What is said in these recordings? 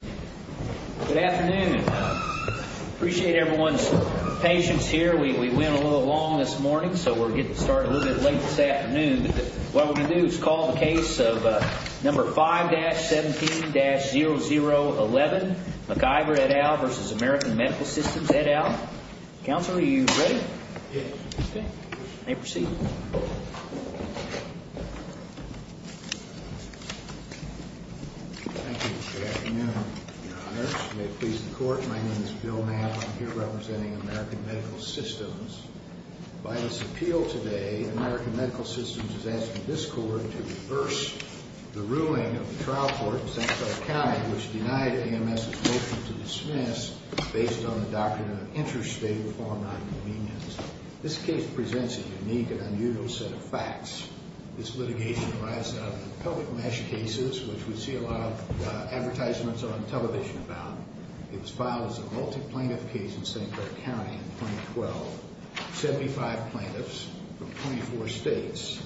Good afternoon. I appreciate everyone's patience here. We went a little long this morning, so we're getting started a little bit late this afternoon. But what we're going to do is call the case of number 5-17-0011, McIver, et al., v. American Medical Systems, et al. Counselor, are you ready? Yes. Okay. May proceed. Thank you. Good afternoon, Your Honor. May it please the Court, my name is Bill Mapp. I'm here representing American Medical Systems. By this appeal today, American Medical Systems is asking this Court to reverse the ruling of the trial court in San Francisco County, which denied AMS's motion to dismiss based on the doctrine of interstate law nonconvenience. This case presents a unique and unusual set of facts. This litigation arises out of public mesh cases, which we see a lot of advertisements on television about. It was filed as a multi-plaintiff case in St. Clair County in 2012. Seventy-five plaintiffs from 24 states,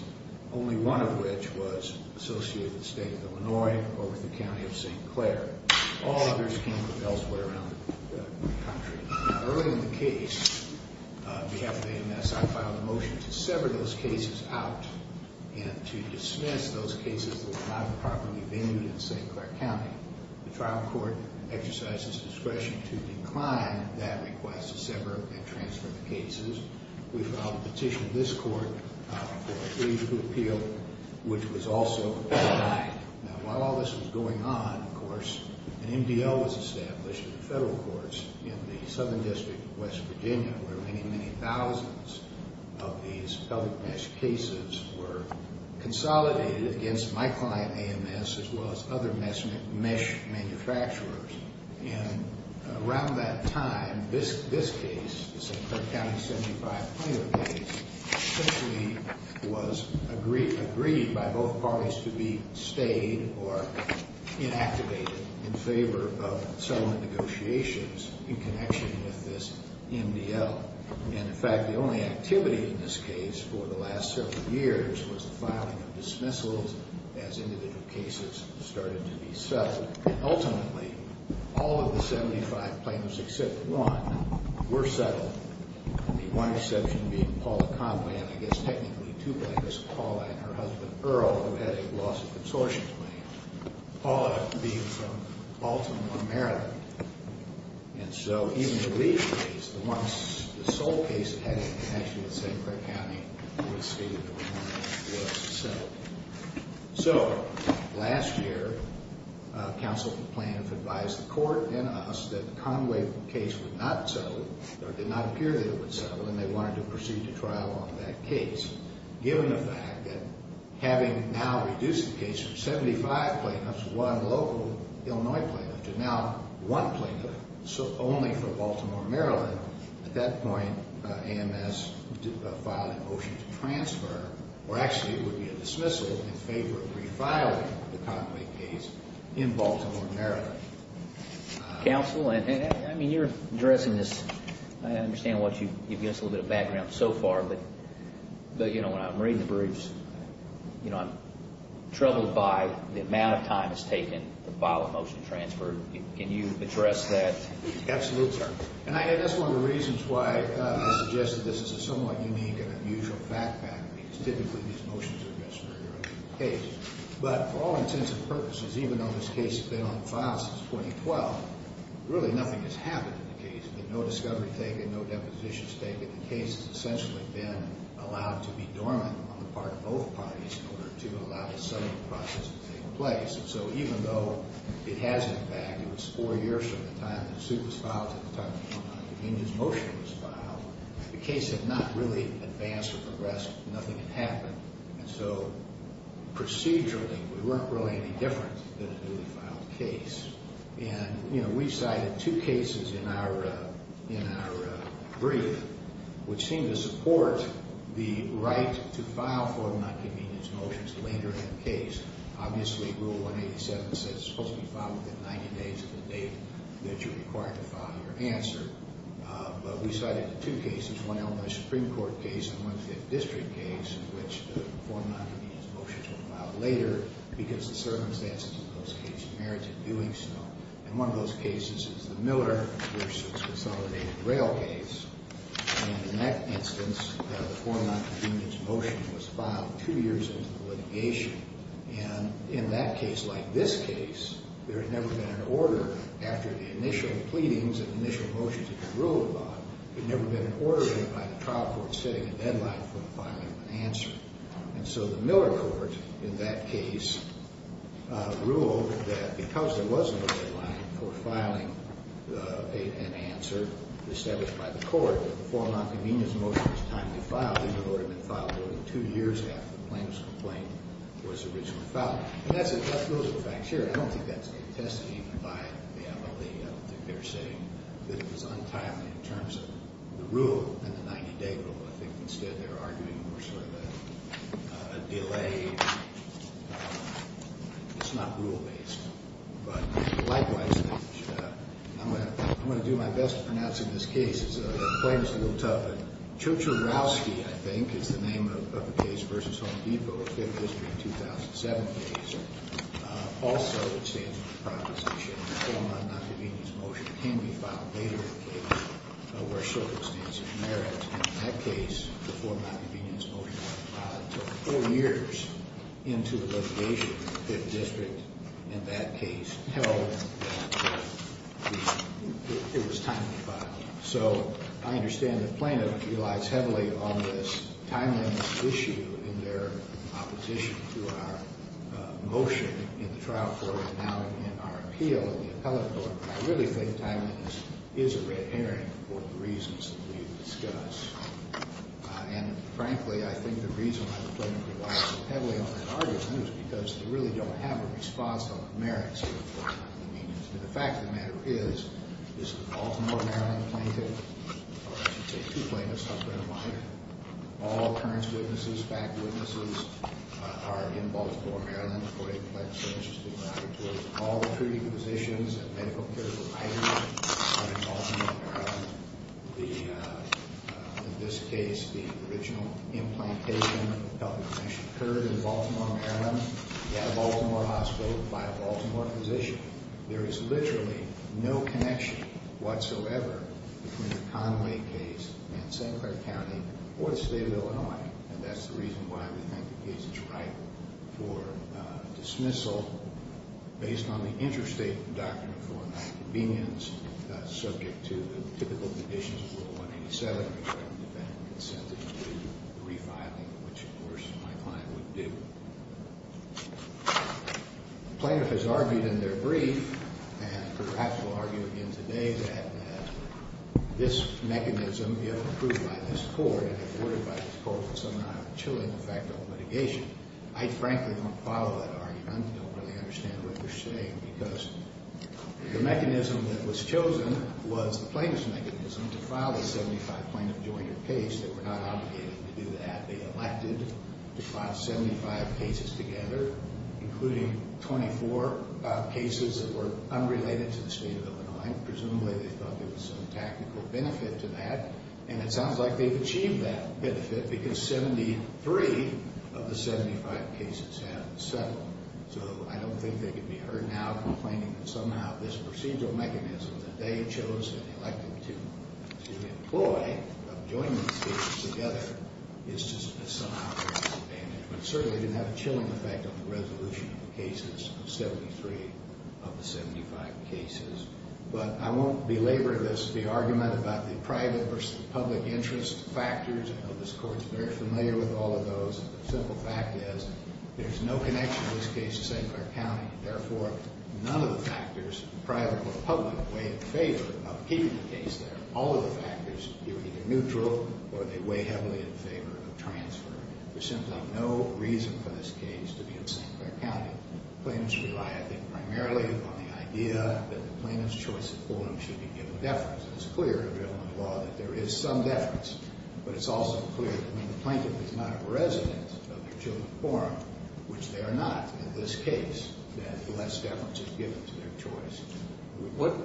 only one of which was associated with the state of Illinois or with the county of St. Clair. All others came from elsewhere around the country. Now, early in the case, on behalf of AMS, I filed a motion to sever those cases out and to dismiss those cases that were not properly venued in St. Clair County. The trial court exercised its discretion to decline that request to sever and transfer the cases. We filed a petition in this court for a three-week appeal, which was also denied. An MDL was established in the federal courts in the Southern District of West Virginia, where many, many thousands of these public mesh cases were consolidated against my client, AMS, as well as other mesh manufacturers. And around that time, this case, the St. Clair County 75 plaintiff case, simply was agreed by both parties to be stayed or inactivated in favor of settlement negotiations in connection with this MDL. And, in fact, the only activity in this case for the last several years was the filing of dismissals as individual cases started to be settled. And ultimately, all of the 75 plaintiffs except one were settled, the one exception being Paula Conway, and I guess technically two plaintiffs, Paula and her husband Earl, who had a loss of consortium claim, Paula being from Baltimore, Maryland. And so even the lead case, the one, the sole case, that had a connection with St. Clair County would say that it was settled. So, last year, counsel of the plaintiff advised the court and us that the Conway case would not settle, or did not appear that it would settle, and they wanted to proceed to trial on that case, given the fact that having now reduced the case from 75 plaintiffs, one local Illinois plaintiff, to now one plaintiff, so only for Baltimore, Maryland, at that point, AMS filed a motion to transfer, or actually it would be a dismissal, Counsel, and, I mean, you're addressing this, I understand what you've given us a little bit of background so far, but, you know, when I'm reading the briefs, you know, I'm troubled by the amount of time it's taken to file a motion to transfer. Can you address that? Absolutely, sir. And that's one of the reasons why I suggested this is a somewhat unique and unusual fact pattern, because typically these motions are dismissed very early in the case. But for all intents and purposes, even though this case has been on file since 2012, really nothing has happened in the case. There's been no discovery taken, no depositions taken. The case has essentially been allowed to be dormant on the part of both parties in order to allow the settling process to take place. And so even though it has, in fact, it was four years from the time that the suit was filed to the time that the convenience motion was filed, the case had not really advanced or progressed. Nothing had happened. And so procedurally, we weren't really any different than a newly filed case. And, you know, we cited two cases in our brief, which seemed to support the right to file for nonconvenience motions later in the case. Obviously, Rule 187 says it's supposed to be filed within 90 days of the date that you're required to file your answer. But we cited two cases, one Illinois Supreme Court case and one Fifth District case, in which the four nonconvenience motions were filed later because the circumstances in those cases merited doing so. And one of those cases is the Miller v. Consolidated Rail case. And in that instance, the four nonconvenience motions was filed two years into the litigation. And in that case, like this case, there had never been an order. After the initial pleadings and initial motions had been ruled on, there had never been an order by the trial court setting a deadline for filing an answer. And so the Miller court, in that case, ruled that because there was no deadline for filing an answer established by the court, that the four nonconvenience motions timely filed, they would have been filed only two years after the plaintiff's complaint was originally filed. And those are the facts here. I don't think that's contested even by the MLA. I don't think they're saying that it was untimely in terms of the rule and the 90-day rule. I think, instead, they're arguing more sort of a delay. It's not rule-based. But, likewise, I'm going to do my best to pronounce in this case. It's a plaintiff's little tug. Chochorowski, I think, is the name of the case versus Home Depot, a Fifth District 2007 case. Also, it stands to be the proposition that the four nonconvenience motions can be filed later in the case where circumstances merit. In that case, the four nonconvenience motions were filed four years into the litigation. The Fifth District, in that case, held that it was timely filing. So I understand the plaintiff relies heavily on this timeliness issue in their opposition to our motion in the trial court and now in our appeal in the appellate court. I really think timeliness is a red herring for the reasons that we've discussed. And, frankly, I think the reason why the plaintiff relies so heavily on that argument is because they really don't have a response on the merits of the four nonconvenience motions. And the fact of the matter is, this is a Baltimore, Maryland plaintiff. Or I should say two plaintiffs, husband and wife. All occurrence witnesses, fact witnesses are in Baltimore, Maryland. The 48th Plaintiff's Service is being brought before you. All the treating physicians and medical care providers are in Baltimore, Maryland. In this case, the original implantation of the health information occurred in Baltimore, Maryland at a Baltimore hospital by a Baltimore physician. There is literally no connection whatsoever between the Conway case in St. Clair County or the state of Illinois. And that's the reason why we think the case is right for dismissal based on the interstate doctrine of four nonconvenience, subject to the typical conditions of Rule 187, which are independent consent, including the refiling, which, of course, my client would do. The plaintiff has argued in their brief, and perhaps will argue again today, that this mechanism, if approved by this court and supported by this court, would somehow have a chilling effect on litigation. I frankly don't follow that argument. I don't really understand what you're saying, because the mechanism that was chosen was the plaintiff's mechanism to file a 75-plaintiff joint or case. They were not obligated to do that. They elected to file 75 cases together, including 24 cases that were unrelated to the state of Illinois. Presumably, they thought there was some tactical benefit to that. And it sounds like they've achieved that benefit, because 73 of the 75 cases have settled. So I don't think they could be heard now complaining that somehow this procedural mechanism that they chose and elected to employ of joining the states together is just somehow disadvantage. But certainly it didn't have a chilling effect on the resolution of the cases of 73 of the 75 cases. But I won't belabor this, the argument about the private versus the public interest factors. I know this court is very familiar with all of those. But the simple fact is there's no connection in this case to St. Clair County. Therefore, none of the factors, private or public, weigh in favor of keeping the case there. All of the factors, they were either neutral or they weigh heavily in favor of transfer. There's simply no reason for this case to be in St. Clair County. The plaintiffs rely, I think, primarily on the idea that the plaintiff's choice of forum should be given deference. It's clear in Illinois law that there is some deference, but it's also clear that when the plaintiff is not a resident of their chosen forum, which they are not in this case, that less deference is given to their choice.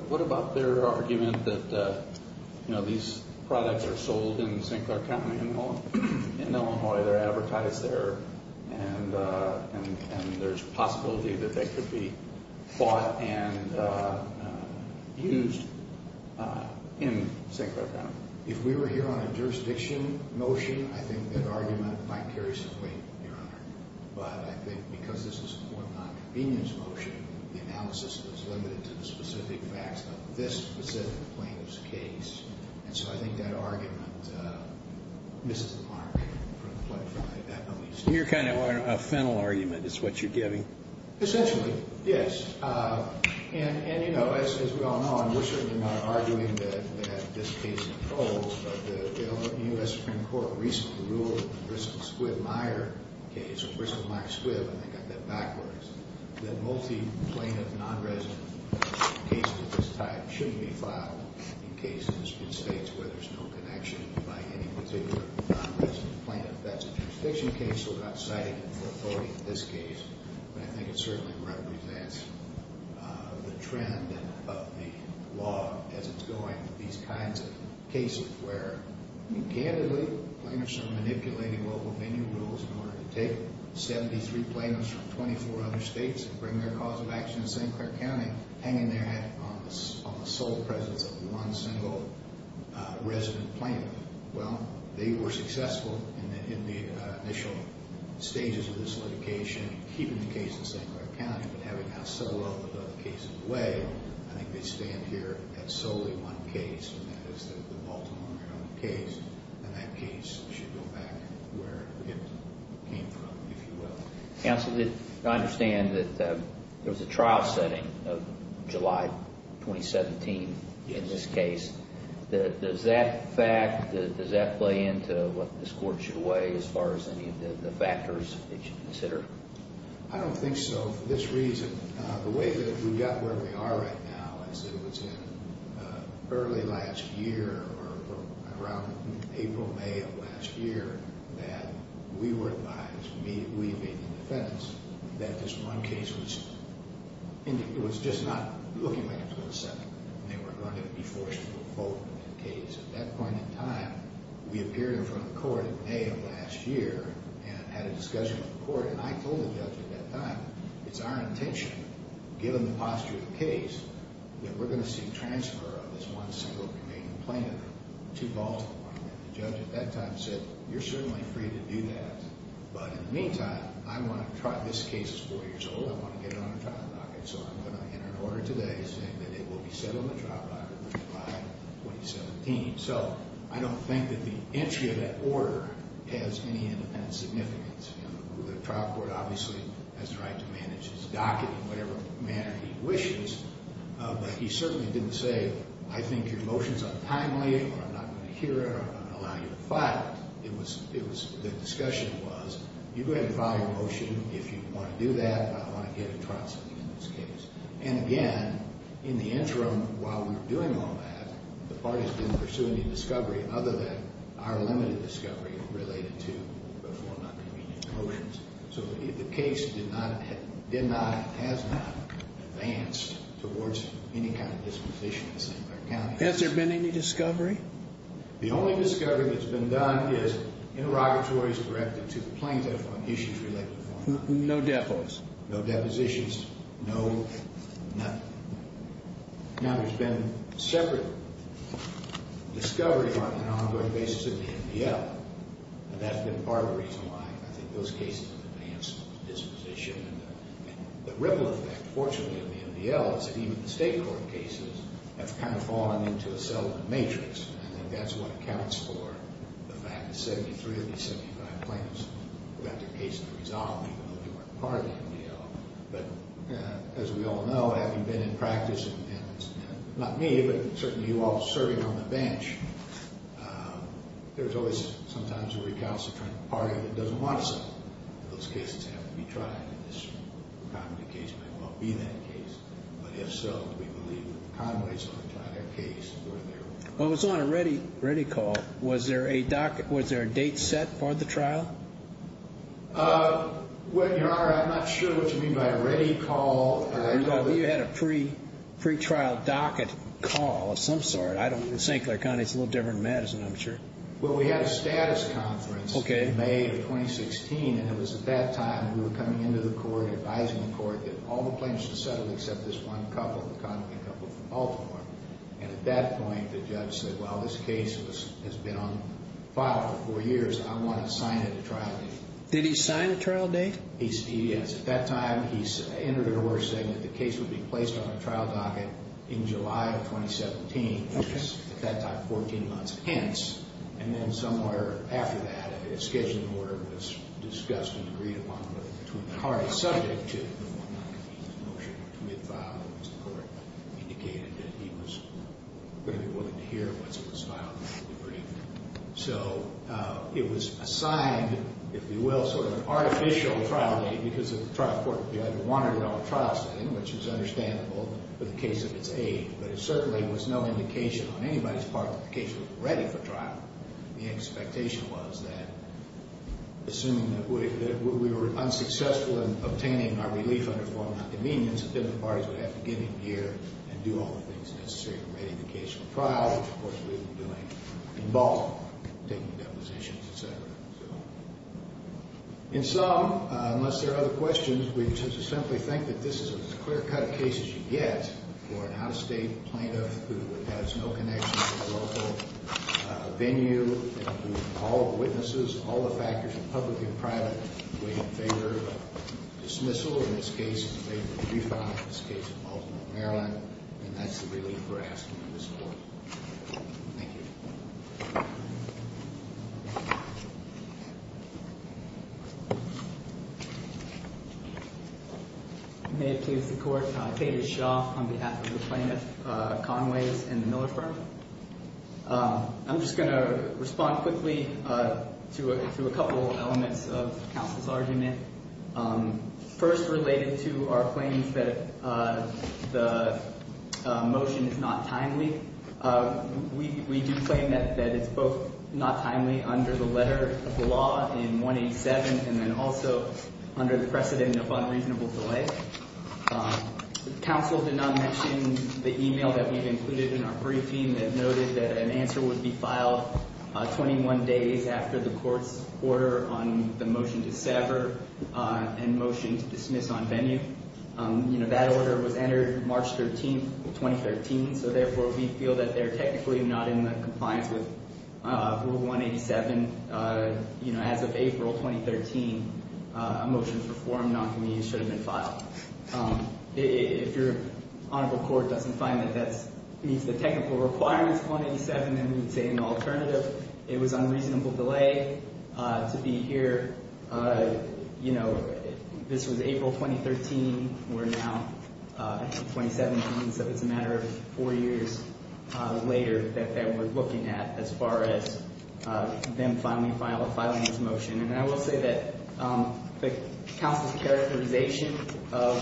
What about their argument that these products are sold in St. Clair County, in Illinois? They're advertised there, and there's a possibility that they could be bought and used in St. Clair County. If we were here on a jurisdiction motion, I think that argument might carry some weight, Your Honor. But I think because this is more of a nonconvenience motion, the analysis is limited to the specific facts of this specific plaintiff's case. And so I think that argument misses the mark. Your kind of a fennel argument is what you're giving. Essentially, yes. And, you know, as we all know, and we're certainly not arguing that this case is cold, but the U.S. Supreme Court recently ruled in the Bristol-Squibb-Meyer case, or Bristol-Meyer-Squibb, and they got that backwards, that multi-plaintiff nonresident cases of this type shouldn't be filed in cases in states where there's no connection by any particular nonresident plaintiff. That's a jurisdiction case, so we're not citing an authority in this case. But I think it certainly represents the trend of the law as it's going with these kinds of cases where, candidly, plaintiffs are manipulating local venue rules in order to take 73 plaintiffs from 24 other states and bring their cause of action in St. Clair County, hanging their head on the sole presence of one single resident plaintiff. Well, they were successful in the initial stages of this litigation, keeping the case in St. Clair County, but having that solo case in the way, I think they stand here at solely one case, and that is the Baltimore case, and that case should go back where it came from, if you will. Counsel, I understand that there was a trial setting of July 2017 in this case. Does that fact, does that play into what this Court should weigh as far as any of the factors it should consider? I don't think so for this reason. The way that we got where we are right now is that it was in early last year, or around April, May of last year, that we were advised, we being the defendants, that this one case was just not looking like it was going to settle. They were going to be forced to revoke the case. At that point in time, we appeared in front of the Court in May of last year and had a discussion with the Court, and I told the judge at that time, it's our intention, given the posture of the case, that we're going to seek transfer of this one single remaining plaintiff to Baltimore. And the judge at that time said, you're certainly free to do that. But in the meantime, I want to try, this case is four years old, I want to get it on a trial docket, so I'm going to enter an order today saying that it will be set on the trial docket by July 2017. So I don't think that the entry of that order has any independent significance. The trial court obviously has the right to manage its docket in whatever manner it wishes, but he certainly didn't say, I think your motion is untimely, or I'm not going to hear it, or I'm not going to allow you to file it. The discussion was, you go ahead and file your motion. If you want to do that, I want to get a trial sitting in this case. And again, in the interim, while we were doing all that, the parties didn't pursue any discovery other than our limited discovery related to the four non-convenient motions. So the case has not advanced towards any kind of disposition in St. Clair County. Has there been any discovery? The only discovery that's been done is interrogatories directed to the plaintiff on issues related to the formality. No depositions. No depositions, no nothing. Now, there's been separate discovery on an ongoing basis at the MDL, and that's been part of the reason why I think those cases have advanced disposition. The ripple effect, fortunately, of the MDL is that even the state court cases have kind of fallen into a settlement matrix, and that's what accounts for the fact that 73 of these 75 plaintiffs got their case to resolve, even though they weren't part of the MDL. But as we all know, having been in practice, and not me, but certainly you all serving on the bench, there's always sometimes a recalcitrant party that doesn't want something. Those cases have to be tried, and this Conway case may well be that case. But if so, we believe that Conway's going to try their case. Well, it was on a ready call. Was there a date set for the trial? Well, Your Honor, I'm not sure what you mean by a ready call. You had a pre-trial docket call of some sort. I don't know. St. Clair County's a little different than Madison, I'm sure. Well, we had a status conference in May of 2016, and it was at that time we were coming into the court and advising the court that all the plaintiffs should settle except this one couple, the Conway couple from Baltimore. And at that point, the judge said, well, this case has been on file for four years. I want to sign it at trial date. Did he sign a trial date? Yes. At that time, he entered an order saying that the case would be placed on a trial docket in July of 2017. Okay. At that time, 14 months hence. And then somewhere after that, a scheduling order was discussed and agreed upon between the parties subject to the one-month notice motion. It was mid-file. It was the court that indicated that he was going to be willing to hear once it was filed. So it was assigned, if you will, sort of an artificial trial date because of the trial court judge wanted it on a trial setting, which is understandable for the case of its age. But it certainly was no indication on anybody's part that the case was ready for trial. The expectation was that, assuming that we were unsuccessful in obtaining our relief under formal convenience, then the parties would have to get in gear and do all the things necessary to ready the case for trial, which, of course, we've been doing in Baltimore, taking depositions, et cetera. In sum, unless there are other questions, we just simply think that this is as clear-cut a case as you get for an out-of-state plaintiff who has no connection to the local venue and who all the witnesses, all the factors, public and private, would favor dismissal, in this case, in favor of re-filing, in this case in Baltimore, Maryland. And that's the relief we're asking of this court. Thank you. May it please the Court. Tate is Shaw on behalf of the plaintiff, Conway's and the Miller firm. I'm just going to respond quickly to a couple elements of counsel's argument. First, related to our claims that the motion is not timely, we do claim that it's both not timely under the letter of the law in 187 and then also under the precedent of unreasonable delay. Counsel did not mention the email that we've included in our briefing that noted that an answer would be filed 21 days after the court's order on the motion to sever and motion to dismiss on venue. That order was entered March 13, 2013, so therefore we feel that they're technically not in compliance with Rule 187 and that, as of April 2013, a motion to perform noncommunion should have been filed. If your honorable court doesn't find that that meets the technical requirements of 187, then we would say in the alternative it was unreasonable delay to be here. This was April 2013. We're now in 2017, so it's a matter of four years later that they were looking at as far as them filing this motion. I will say that the counsel's characterization of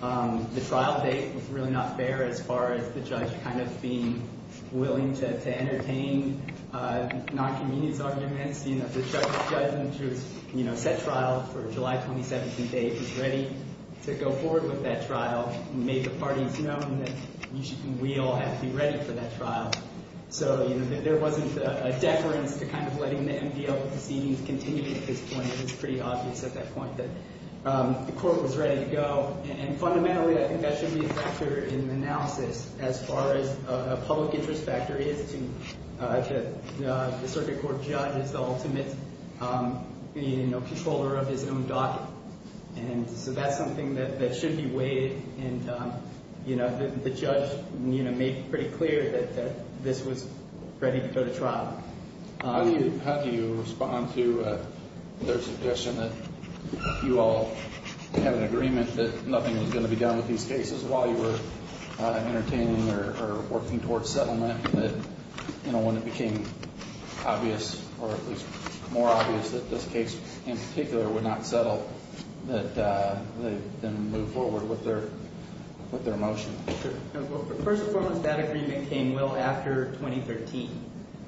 the trial date was really not fair as far as the judge kind of being willing to entertain noncommunion's arguments. The judge's judgment was set trial for July 27th and date was ready to go forward with that trial, made the parties know that we all have to be ready for that trial. So there wasn't a deference to kind of letting the MVL proceedings continue at this point. It was pretty obvious at that point that the court was ready to go, and fundamentally I think that should be a factor in the analysis as far as a public interest factor is to the circuit court judge as the ultimate controller of his own docket. So that's something that should be weighed, and the judge made pretty clear that this was ready to go to trial. How do you respond to their suggestion that you all have an agreement that nothing was going to be done with these cases while you were entertaining or working towards settlement, and that when it became obvious or at least more obvious that this case in particular would not settle, that they then move forward with their motion? Sure. First and foremost, that agreement came well after 2013.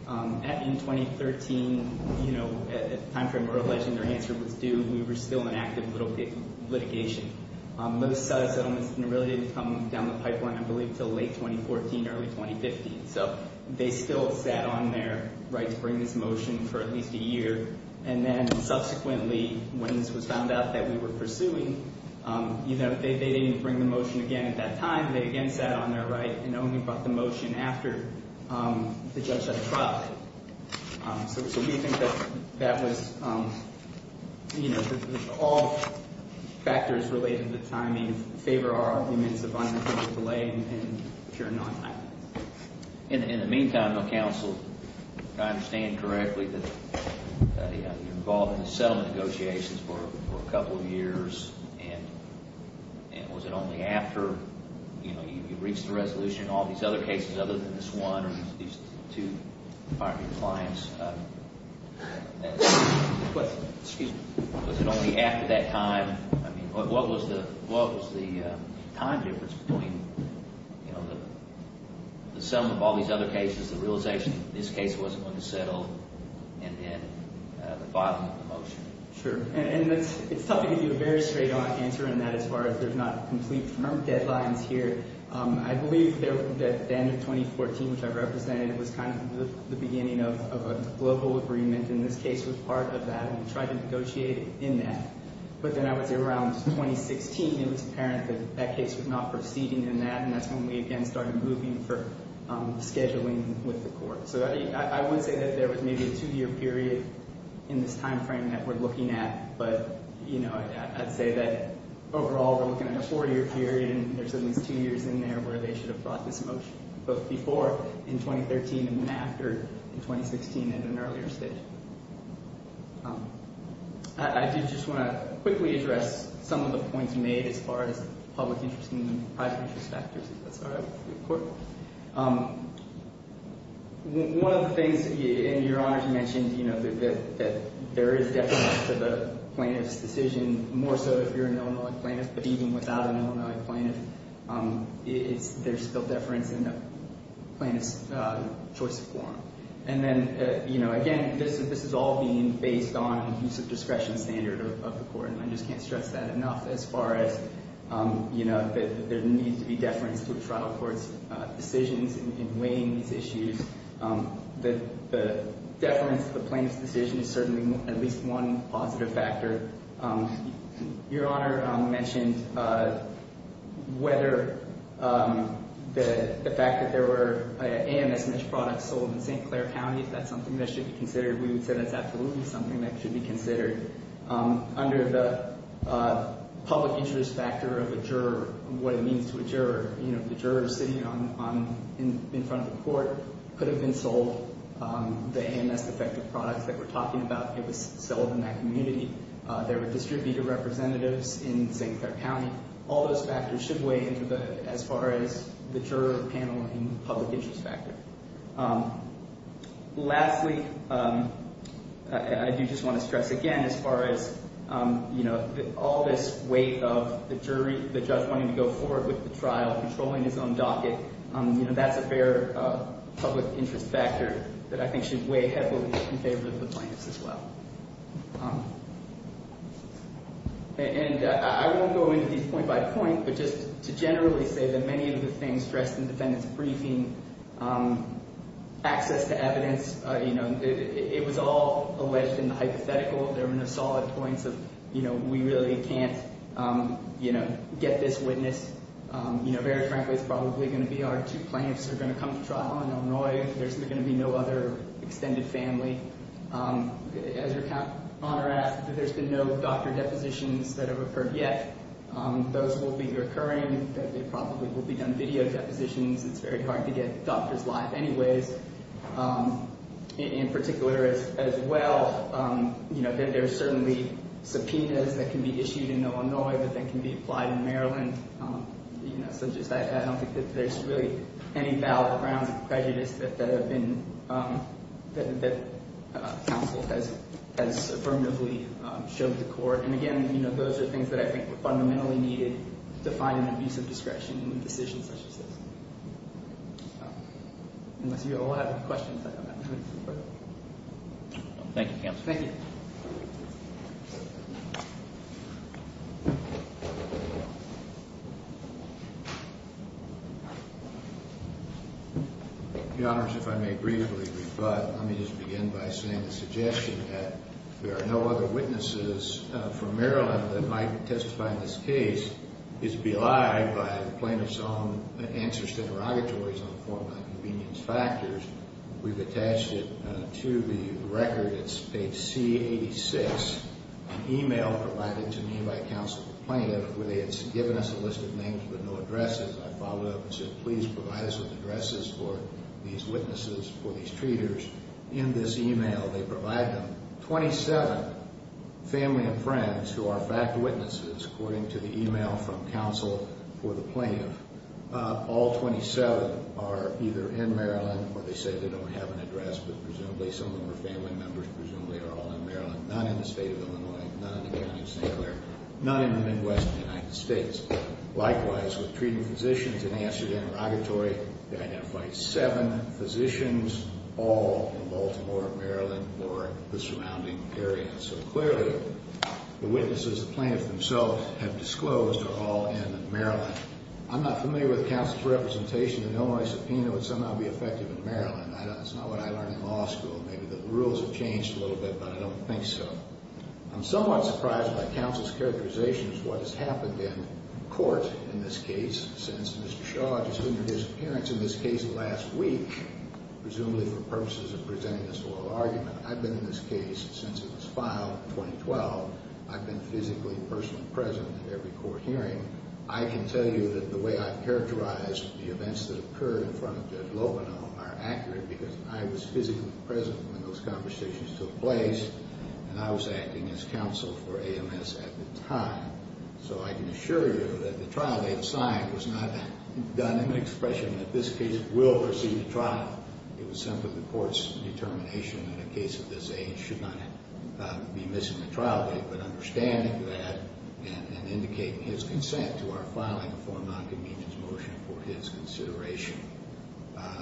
In 2013, at the time frame we're alleging their answer was due, we were still in active litigation. Most settlements really didn't come down the pipeline, I believe, until late 2014, early 2015. So they still sat on their right to bring this motion for at least a year, and then subsequently when this was found out that we were pursuing, they didn't bring the motion again at that time. They again sat on their right and only brought the motion after the judge had tried. So do you think that that was, you know, that all factors related to timing favor our arguments of unapproved delay and pure non-timing? In the meantime, the counsel, if I understand correctly, that you were involved in the settlement negotiations for a couple of years, and was it only after you reached a resolution, all these other cases other than this one, or these two partner clients, was it only after that time, I mean, what was the time difference between the sum of all these other cases, the realization that this case wasn't going to settle, and then the filing of the motion? Sure. And it's tough to give you a very straight answer on that as far as there's not complete term deadlines here. I believe that the end of 2014, which I represented, was kind of the beginning of a global agreement, and this case was part of that, and we tried to negotiate in that. But then I would say around 2016, it was apparent that that case was not proceeding in that, and that's when we again started moving for scheduling with the court. So I wouldn't say that there was maybe a two-year period in this time frame that we're looking at, but, you know, I'd say that overall we're looking at a four-year period, and there's at least two years in there where they should have brought this motion, both before in 2013 and then after in 2016 at an earlier stage. I did just want to quickly address some of the points made as far as public interest and private interest factors, if that's all right with the court. One of the things, and Your Honor, you mentioned, you know, that there is depth to the plaintiff's decision, more so if you're an Illinois plaintiff, but even without an Illinois plaintiff, there's still deference in the plaintiff's choice of forum. And then, you know, again, this is all being based on the use of discretion standard of the court, and I just can't stress that enough as far as, you know, that there needs to be deference to a trial court's decisions in weighing these issues. The deference to the plaintiff's decision is certainly at least one positive factor. Your Honor mentioned whether the fact that there were AMS-matched products sold in St. Clair County, if that's something that should be considered. We would say that's absolutely something that should be considered. Under the public interest factor of a juror, what it means to a juror, you know, the juror sitting in front of the court could have been sold the AMS-defective products that we're talking about. It was sold in that community. There were distributed representatives in St. Clair County. All those factors should weigh in as far as the juror paneling public interest factor. Lastly, I do just want to stress again as far as, you know, all this weight of the jury, the judge wanting to go forward with the trial, controlling his own docket, you know, that's a fair public interest factor that I think should weigh heavily in favor of the plaintiffs as well. And I won't go into these point by point, but just to generally say that many of the things stressed in the defendant's briefing, access to evidence, you know, it was all alleged in the hypothetical. There were no solid points of, you know, we really can't, you know, get this witness. You know, very frankly, it's probably going to be our two plaintiffs that are going to come to trial in Illinois. There's going to be no other extended family. As your Honor asked, there's been no doctor depositions that have occurred yet. Those will be recurring. There probably will be done video depositions. It's very hard to get doctors live anyways. In particular as well, you know, there's certainly subpoenas that can be issued in Illinois that then can be applied in Maryland. You know, so just I don't think that there's really any valid grounds of prejudice that have been, that counsel has affirmatively showed to court. And again, you know, those are things that I think were fundamentally needed to find an abuse of discretion in a decision such as this. Unless you all have questions, I don't have any. Thank you, counsel. Thank you. Thank you. Your Honors, if I may briefly rebut. Let me just begin by saying the suggestion that there are no other witnesses from Maryland that might testify in this case is belied by the plaintiff's own answers to interrogatories on the form of inconvenience factors. We've attached it to the record. It's page C86. An email provided to me by counsel to the plaintiff where they had given us a list of names with no addresses. I followed up and said, please provide us with addresses for these witnesses, for these treaters. In this email, they provide them 27 family and friends who are fact witnesses, according to the email from counsel for the plaintiff. All 27 are either in Maryland, or they say they don't have an address, but presumably some of them are family members. Presumably they're all in Maryland. Not in the state of Illinois, not in the county of St. Clair, not in the Midwest of the United States. Likewise, with treating physicians, in the answer to the interrogatory, they identified seven physicians, all in Baltimore, Maryland, or the surrounding area. So clearly, the witnesses the plaintiff themselves have disclosed are all in Maryland. I'm not familiar with counsel's representation in Illinois. Subpoena would somehow be effective in Maryland. That's not what I learned in law school. Maybe the rules have changed a little bit, but I don't think so. I'm somewhat surprised by counsel's characterization of what has happened in court in this case, since Mr. Shaw just entered his appearance in this case last week, presumably for purposes of presenting this oral argument. I've been in this case since it was filed in 2012. I've been physically and personally present at every court hearing. I can tell you that the way I've characterized the events that occurred in front of Judge Loveno are accurate because I was physically present when those conversations took place, and I was acting as counsel for AMS at the time. So I can assure you that the trial date signed was not done in the expression that this case will receive a trial. It was simply the court's determination that a case of this age should not be missing a trial date, and I've been understanding that and indicating his consent to our filing of the Foreign Nonconvenience Motion for his consideration.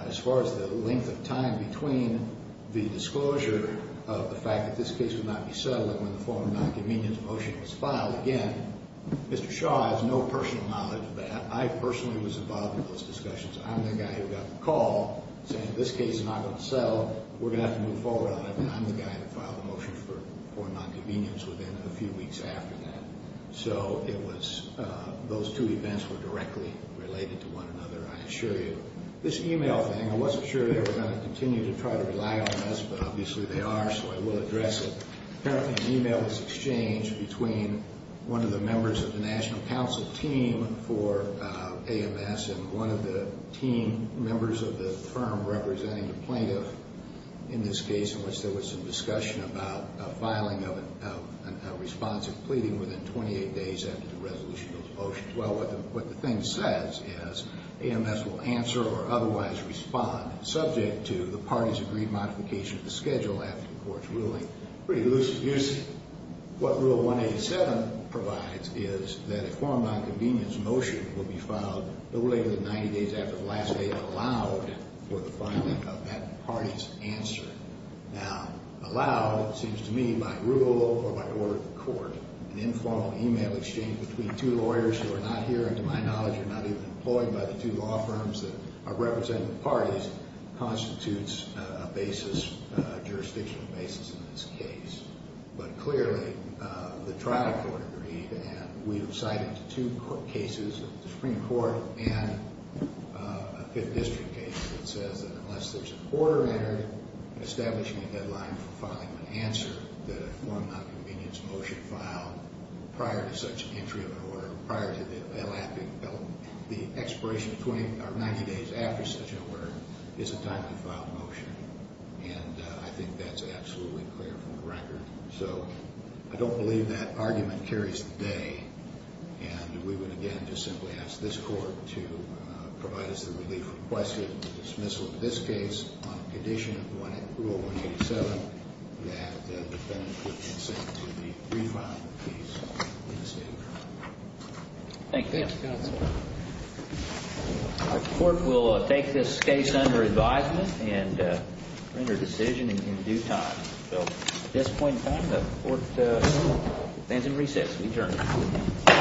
As far as the length of time between the disclosure of the fact that this case would not be settled and when the Foreign Nonconvenience Motion was filed, again, Mr. Shaw has no personal knowledge of that. I personally was involved in those discussions. I'm the guy who got the call saying this case is not going to settle, we're going to have to move forward on it, and I'm the guy who filed the motion for Foreign Nonconvenience within a few weeks after that. So those two events were directly related to one another, I assure you. This email thing, I wasn't sure they were going to continue to try to rely on us, but obviously they are, so I will address it. Apparently an email was exchanged between one of the members of the National Counsel team for AMS and one of the team members of the firm representing the plaintiff in this case, in which there was some discussion about filing of a response of pleading within 28 days after the resolution of the motion. Well, what the thing says is AMS will answer or otherwise respond subject to the parties' agreed modification of the schedule after the court's ruling. Pretty loose abuse. What Rule 187 provides is that a Foreign Nonconvenience motion will be filed no later than 90 days after the last date and allowed for the filing of that party's answer. Now, allowed seems to me by rule or by order of the court. An informal email exchange between two lawyers who are not here and to my knowledge are not even employed by the two law firms that are representing the parties constitutes a basis, a jurisdictional basis in this case. But clearly the trial court agreed and we have cited two cases, the Supreme Court and a Fifth District case that says that unless there's a quarterly establishment deadline for filing an answer that a Foreign Nonconvenience motion filed prior to such entry of an order, prior to the elapping, the expiration of 90 days after such an order is a time to file a motion. And I think that's absolutely clear from the record. So I don't believe that argument carries today. And we would again just simply ask this court to provide us the relief requested in the dismissal of this case on the condition of Rule 187 that the defendant would consent to the remand of the case in the State of California. Thank you. Thank you, Counsel. Our court will take this case under advisement and render a decision in due time. So at this point in time, the court stands and resits. We adjourn.